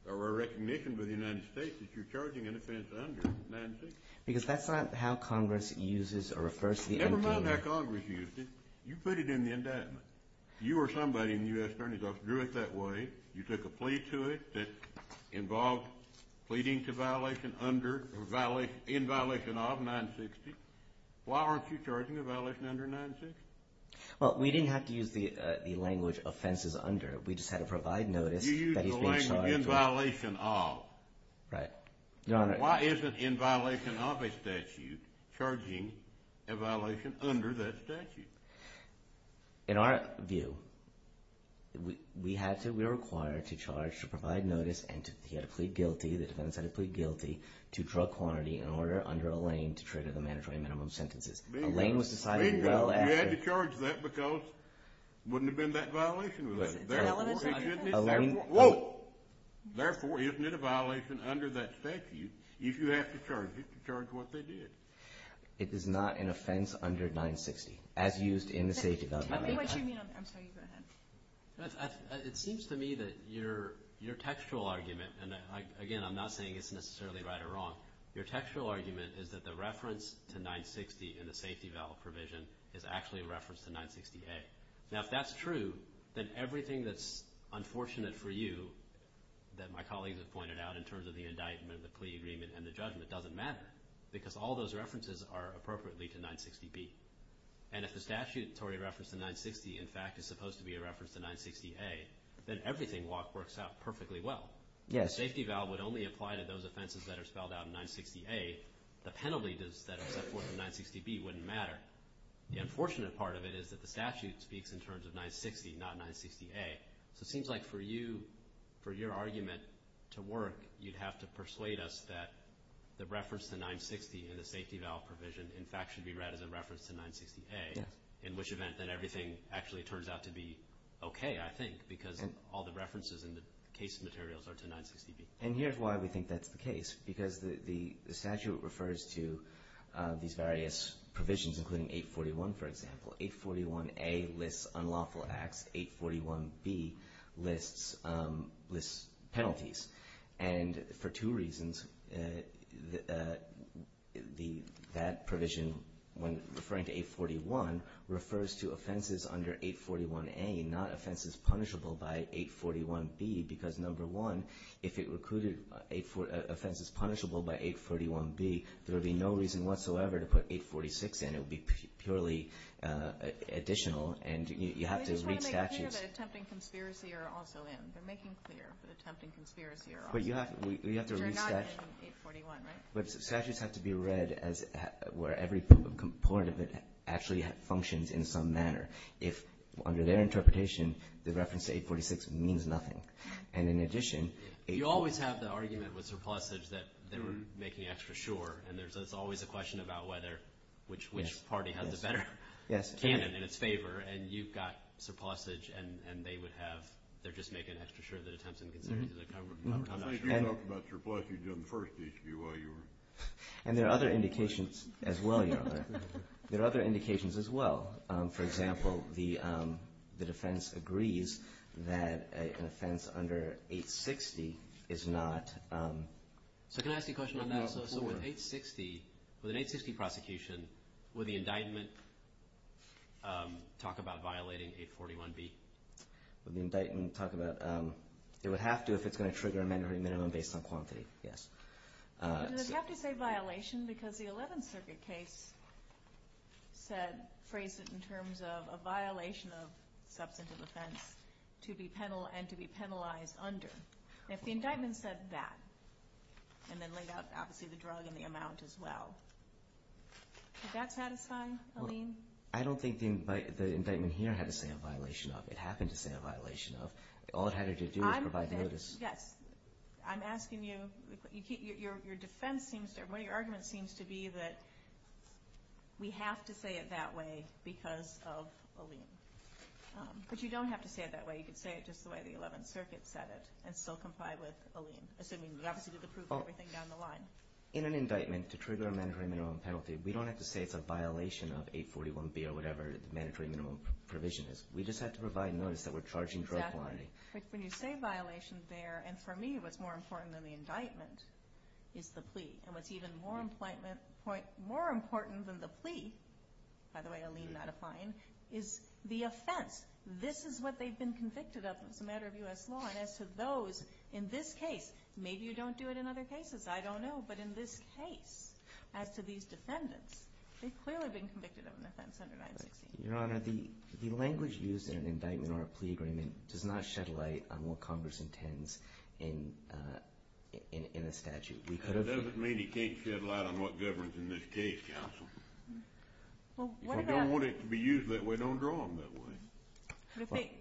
or a recognition by the United States that you're charging an offense under 960? Because that's not how Congress uses or refers to the MDLEA. Never mind how Congress used it. You put it in the indictment. You or somebody in the U.S. Attorney's Office drew it that way. You took a plea to it that involved pleading to violation under or in violation of 960. Why aren't you charging a violation under 960? Well, we didn't have to use the language offenses under. We just had to provide notice that he's being charged. You used the language in violation of. Right. Your Honor. Why isn't in violation of a statute charging a violation under that statute? In our view, we're required to charge, to provide notice, and to plead guilty, the defendant's had to plead guilty to drug quantity in order under a lane to trigger the mandatory minimum sentences. A lane was decided well after... You had to charge that because it wouldn't have been that violation. Therefore, it shouldn't be... Whoa! Therefore, isn't it a violation under that statute if you have to charge it to charge what they did? It is not an offense under 960. As used in the safety... Tell me what you mean on that. I'm sorry. Go ahead. It seems to me that your textual argument, and, again, I'm not saying it's necessarily right or wrong, your textual argument is that the reference to 960 in the safety valve provision is actually a reference to 960A. Now, if that's true, then everything that's unfortunate for you that my colleagues have pointed out in terms of the indictment, the plea agreement, and the judgment doesn't matter because all those references are appropriately to 960B. And if the statutory reference to 960, in fact, is supposed to be a reference to 960A, then everything works out perfectly well. The safety valve would only apply to those offenses that are spelled out in 960A. The penalty that is set forth in 960B wouldn't matter. The unfortunate part of it is that the statute speaks in terms of 960, not 960A. So it seems like for you, for your argument to work, you'd have to persuade us that the reference to 960 in the safety valve provision, in fact, should be read as a reference to 960A, in which event that everything actually turns out to be okay, I think, because all the references and the case materials are to 960B. And here's why we think that's the case, because the statute refers to these various provisions, including 841, for example. 841A lists unlawful acts. 841B lists penalties. And for two reasons, that provision, when referring to 841, refers to offenses under 841A, not offenses punishable by 841B, because, number one, if it included offenses punishable by 841B, there would be no reason whatsoever to put 846 in. It would be purely additional, and you have to read statutes. I'm just trying to make clear that attempting conspiracy are also in. They're making clear that attempting conspiracy are also in. But you have to read statutes. Which are not in 841, right? But statutes have to be read as where every component of it actually functions in some manner. If, under their interpretation, the reference to 846 means nothing. And in addition, 841. You always have the argument with surplusage that they were making extra sure, and there's always a question about whether which party has the better canon in its favor. And you've got surplusage, and they would have. They're just making extra sure that attempts and conspiracies are covered. I'm not sure. And you talked about surplusage in the first HBY. And there are other indications as well, Your Honor. There are other indications as well. For example, the defense agrees that an offense under 860 is not. So can I ask you a question on that? So with 860, with an 860 prosecution, would the indictment talk about violating 841B? Would the indictment talk about? It would have to if it's going to trigger a mandatory minimum based on quantity, yes. Does it have to say violation? Because the 11th Circuit case said, phrased it in terms of a violation of substantive offense and to be penalized under. If the indictment said that, and then laid out, obviously, the drug and the amount as well, would that satisfy a lien? I don't think the indictment here had to say a violation of. It happened to say a violation of. All it had to do was provide notice. Yes. I'm asking you. Your defense seems to, one of your arguments seems to be that we have to say it that way because of a lien. But you don't have to say it that way. You could say it just the way the 11th Circuit said it and still comply with a lien, assuming we obviously did approve everything down the line. In an indictment, to trigger a mandatory minimum penalty, we don't have to say it's a violation of 841B or whatever the mandatory minimum provision is. We just have to provide notice that we're charging drug quantity. Exactly. When you say violation there, and for me what's more important than the indictment is the plea. And what's even more important than the plea, by the way, a lien not applying, is the offense. This is what they've been convicted of as a matter of U.S. law. And as to those in this case, maybe you don't do it in other cases. I don't know. But in this case, as to these defendants, they've clearly been convicted of an offense under 916. Your Honor, the language used in an indictment or a plea agreement does not shed light on what Congress intends in a statute. That doesn't mean it can't shed light on what governs in this case, counsel. We don't want it to be used that way. Don't draw them that way.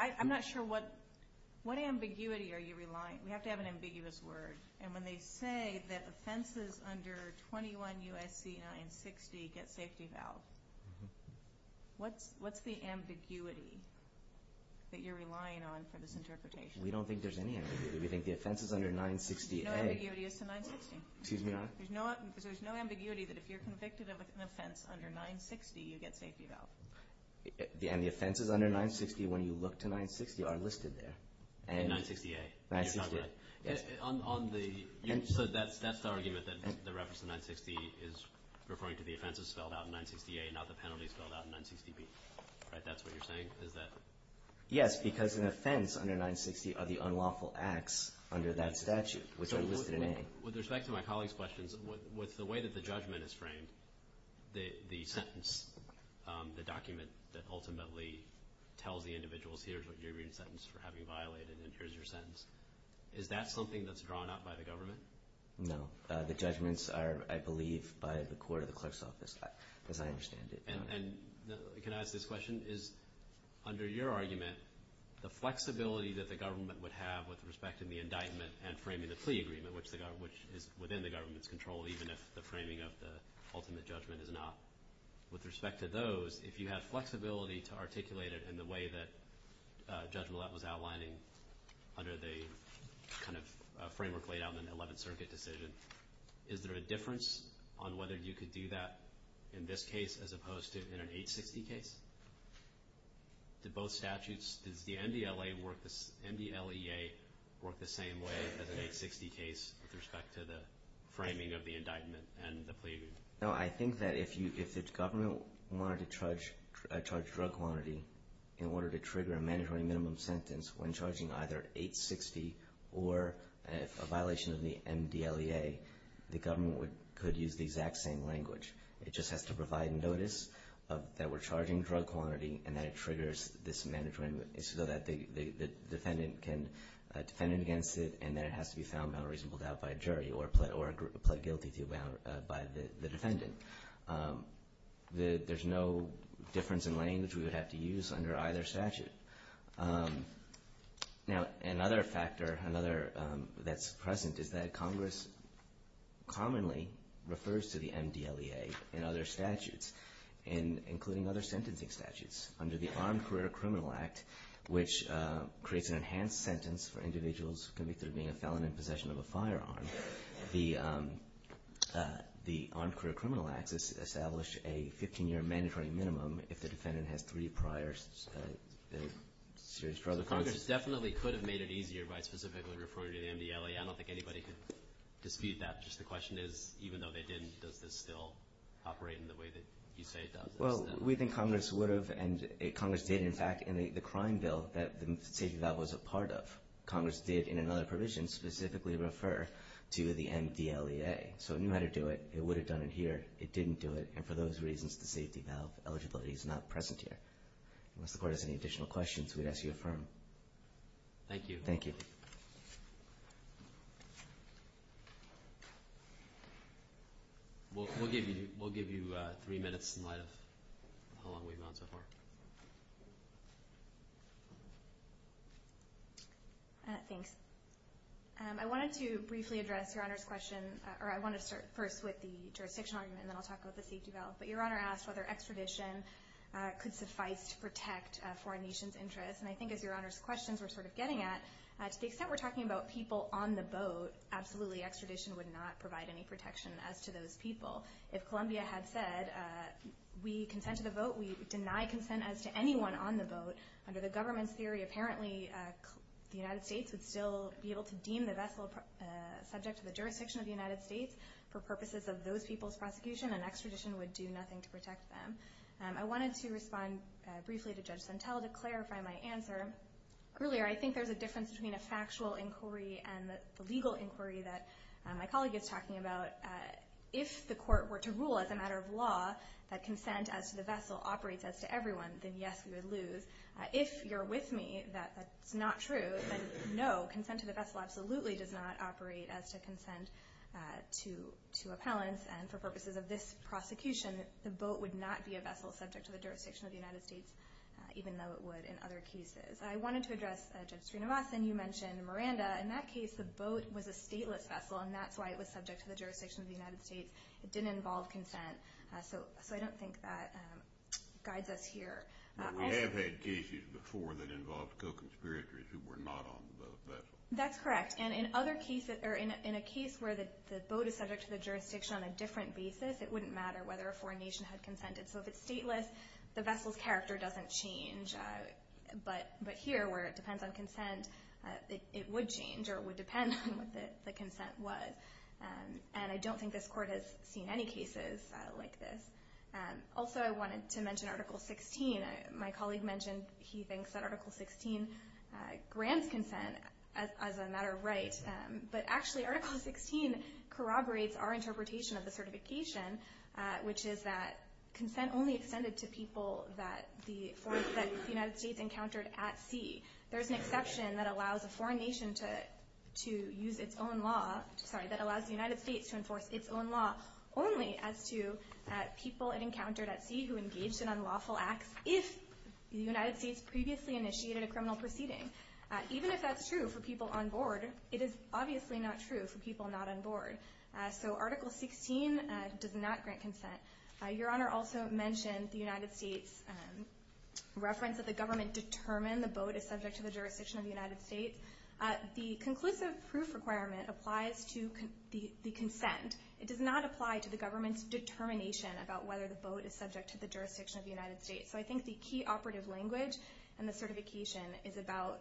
I'm not sure what ambiguity are you relying? We have to have an ambiguous word. And when they say that offenses under 21 U.S.C. 960 get safety valve, what's the ambiguity that you're relying on for this interpretation? We don't think there's any ambiguity. We think the offenses under 960A. There's no ambiguity as to 960. Excuse me, Your Honor? There's no ambiguity that if you're convicted of an offense under 960, you get safety valve. And the offenses under 960, when you look to 960, are listed there. And 960A. 960A. So that's the argument that the reference to 960 is referring to the offenses spelled out in 960A, not the penalties spelled out in 960B. Right? That's what you're saying? Yes, because an offense under 960 are the unlawful acts under that statute, which are listed in A. With respect to my colleague's questions, with the way that the judgment is framed, the sentence, the document that ultimately tells the individuals, here's what you're being sentenced for having violated, and here's your sentence, is that something that's drawn up by the government? No. The judgments are, I believe, by the court or the clerk's office, as I understand it. And can I ask this question? Is, under your argument, the flexibility that the government would have with respect to the indictment and framing the plea agreement, which is within the government's control, even if the framing of the ultimate judgment is not? With respect to those, if you have flexibility to articulate it in the way that Judge Millett was outlining under the kind of framework laid out in the Eleventh Circuit decision, is there a difference on whether you could do that in this case as opposed to in an 860 case? Did both statutes, does the MDLEA work the same way as an 860 case with respect to the framing of the indictment and the plea agreement? No, I think that if the government wanted to charge drug quantity in order to trigger a mandatory minimum sentence when charging either 860 or a violation of the MDLEA, the government could use the exact same language. It just has to provide notice that we're charging drug quantity and that it triggers this mandatory minimum, so that the defendant can defend it against it and then it has to be found without reasonable doubt by a jury or plead guilty to it by the defendant. There's no difference in language we would have to use under either statute. Now, another factor that's present is that Congress commonly refers to the MDLEA in other statutes, including other sentencing statutes. Under the Armed Career Criminal Act, which creates an enhanced sentence for individuals convicted of being a felon in possession of a firearm, the Armed Career Criminal Act establishes a 15-year mandatory minimum if the defendant has three prior So Congress definitely could have made it easier by specifically referring to the MDLEA. I don't think anybody could dispute that. Just the question is, even though they didn't, does this still operate in the way that you say it does? Well, we think Congress would have, and Congress did, in fact, in the crime bill that the safety valve was a part of. Congress did, in another provision, specifically refer to the MDLEA. So it knew how to do it. It would have done it here. It didn't do it. And for those reasons, the safety valve eligibility is not present here. Unless the Court has any additional questions, we'd ask you to affirm. Thank you. Thank you. We'll give you three minutes in light of how long we've gone so far. Thanks. I wanted to briefly address Your Honor's question, or I wanted to start first with the jurisdiction argument, and then I'll talk about the safety valve. But Your Honor asked whether extradition could suffice to protect foreign nations' interests. And I think as Your Honor's questions were sort of getting at, to the extent we're talking about people on the boat, absolutely extradition would not provide any protection as to those people. If Columbia had said, we consent to the vote, we deny consent as to anyone on the boat, under the government's theory, apparently the United States would still be able to deem the vessel subject to the jurisdiction of the United States. For purposes of those people's prosecution, an extradition would do nothing to protect them. I wanted to respond briefly to Judge Sentelle to clarify my answer. Earlier, I think there's a difference between a factual inquiry and the legal inquiry that my colleague is talking about. If the Court were to rule as a matter of law that consent as to the vessel operates as to everyone, then yes, we would lose. If you're with me that that's not true, then no, consent to the vessel absolutely does not operate as to consent to appellants. And for purposes of this prosecution, the boat would not be a vessel subject to the jurisdiction of the United States, even though it would in other cases. I wanted to address Judge Srinivasan. You mentioned Miranda. In that case, the boat was a stateless vessel, and that's why it was subject to the jurisdiction of the United States. It didn't involve consent. So I don't think that guides us here. We have had cases before that involved co-conspirators who were not on the vessel. That's correct. And in a case where the boat is subject to the jurisdiction on a different basis, it wouldn't matter whether a foreign nation had consented. So if it's stateless, the vessel's character doesn't change. But here, where it depends on consent, it would change, or it would depend on what the consent was. And I don't think this Court has seen any cases like this. Also, I wanted to mention Article 16. My colleague mentioned he thinks that Article 16 grants consent as a matter of right. But actually, Article 16 corroborates our interpretation of the certification, which is that consent only extended to people that the United States encountered at sea. There's an exception that allows the United States to enforce its own law only as to people it encountered at sea who engaged in unlawful acts if the United States previously initiated a criminal proceeding. Even if that's true for people on board, it is obviously not true for people not on board. So Article 16 does not grant consent. Your Honor also mentioned the United States' reference that the government determined the boat is subject to the jurisdiction of the United States. The conclusive proof requirement applies to the consent. It does not apply to the government's determination about whether the boat is subject to the jurisdiction of the United States. So I think the key operative language in the certification is about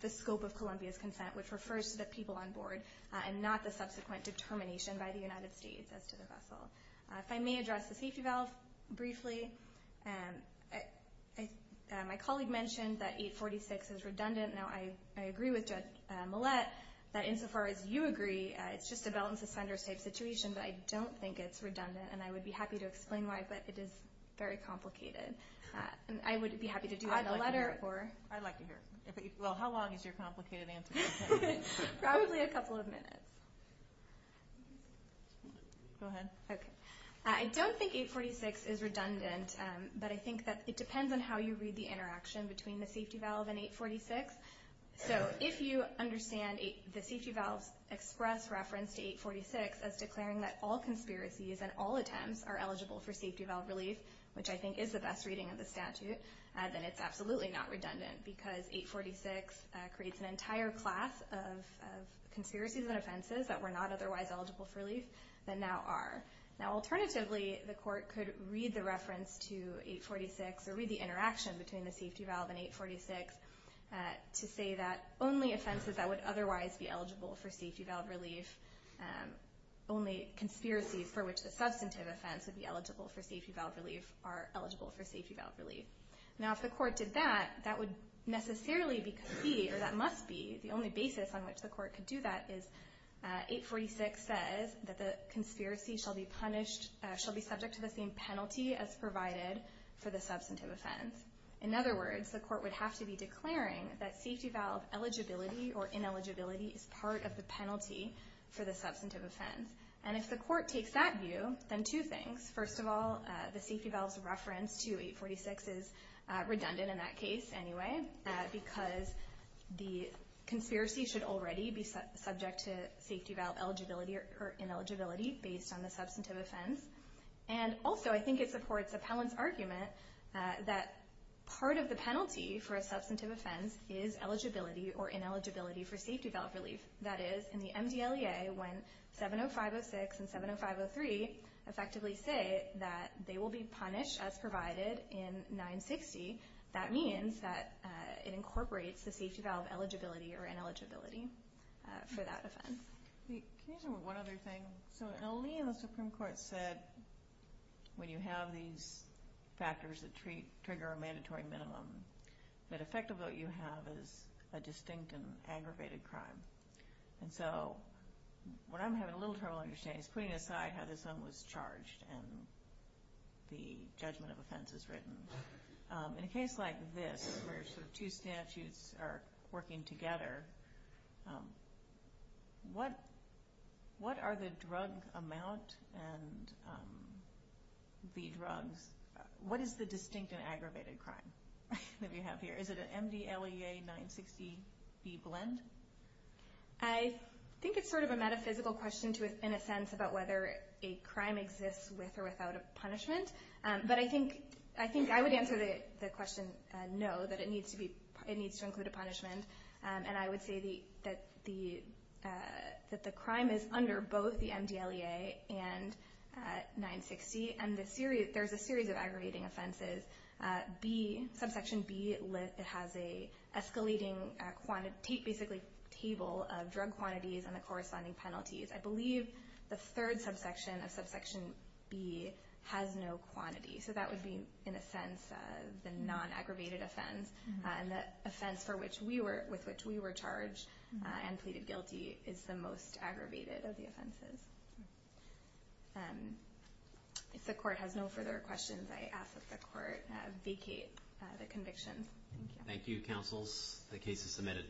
the scope of Columbia's consent, which refers to the people on board and not the subsequent determination by the United States as to the vessel. If I may address the safety valve briefly, my colleague mentioned that 846 is redundant. Now I agree with Judge Millett that insofar as you agree, it's just a belt and suspenders type situation, but I don't think it's redundant, and I would be happy to explain why, but it is very complicated. I would be happy to do that in a letter. I'd like to hear it. Well, how long is your complicated answer? Probably a couple of minutes. Go ahead. Okay. I don't think 846 is redundant, but I think that it depends on how you read the interaction between the safety valve and 846. So if you understand the safety valve's express reference to 846 as declaring that all conspiracies and all attempts are eligible for safety valve relief, which I think is the best reading of the statute, then it's absolutely not redundant because 846 creates an entire class of conspiracies and offenses that were not otherwise eligible for relief that now are. Now, alternatively, the court could read the reference to 846 or read the interaction between the safety valve and 846 to say that only offenses that would otherwise be eligible for safety valve relief, only conspiracies for which the substantive offense would be eligible for safety valve relief, are eligible for safety valve relief. Now, if the court did that, that would necessarily be, or that must be, the only basis on which the court could do that is 846 says that the conspiracy shall be punished, shall be subject to the same penalty as provided for the substantive offense. In other words, the court would have to be declaring that safety valve eligibility or ineligibility is part of the penalty for the substantive offense. And if the court takes that view, then two things. First of all, the safety valve's reference to 846 is redundant in that case anyway because the conspiracy should already be subject to safety valve eligibility or ineligibility based on the substantive offense. And also, I think it supports Appellant's argument that part of the penalty for a substantive offense is eligibility or ineligibility for safety valve relief. That is, in the MDLEA, when 70506 and 70503 effectively say that they will be punished as provided in 960, that means that it incorporates the safety valve eligibility or ineligibility for that offense. Can I just add one other thing? So in L.E.A., the Supreme Court said when you have these factors that trigger a mandatory minimum that effectively what you have is a distinct and aggravated crime. And so what I'm having a little trouble understanding is putting aside how this one was charged and the judgment of offense is written. In a case like this where two statutes are working together, what are the drug amount and the drugs? What is the distinct and aggravated crime that we have here? Is it an MDLEA 960B blend? I think it's sort of a metaphysical question in a sense about whether a crime exists with or without a punishment. But I think I would answer the question no, that it needs to include a punishment. And I would say that the crime is under both the MDLEA and 960. And there's a series of aggravating offenses. Subsection B has an escalating basically table of drug quantities and the corresponding penalties. I believe the third subsection of subsection B has no quantity. So that would be in a sense the non-aggravated offense. And the offense with which we were charged and pleaded guilty is the most aggravated of the offenses. If the court has no further questions, I ask that the court vacate the conviction. Thank you, counsels. The case is submitted.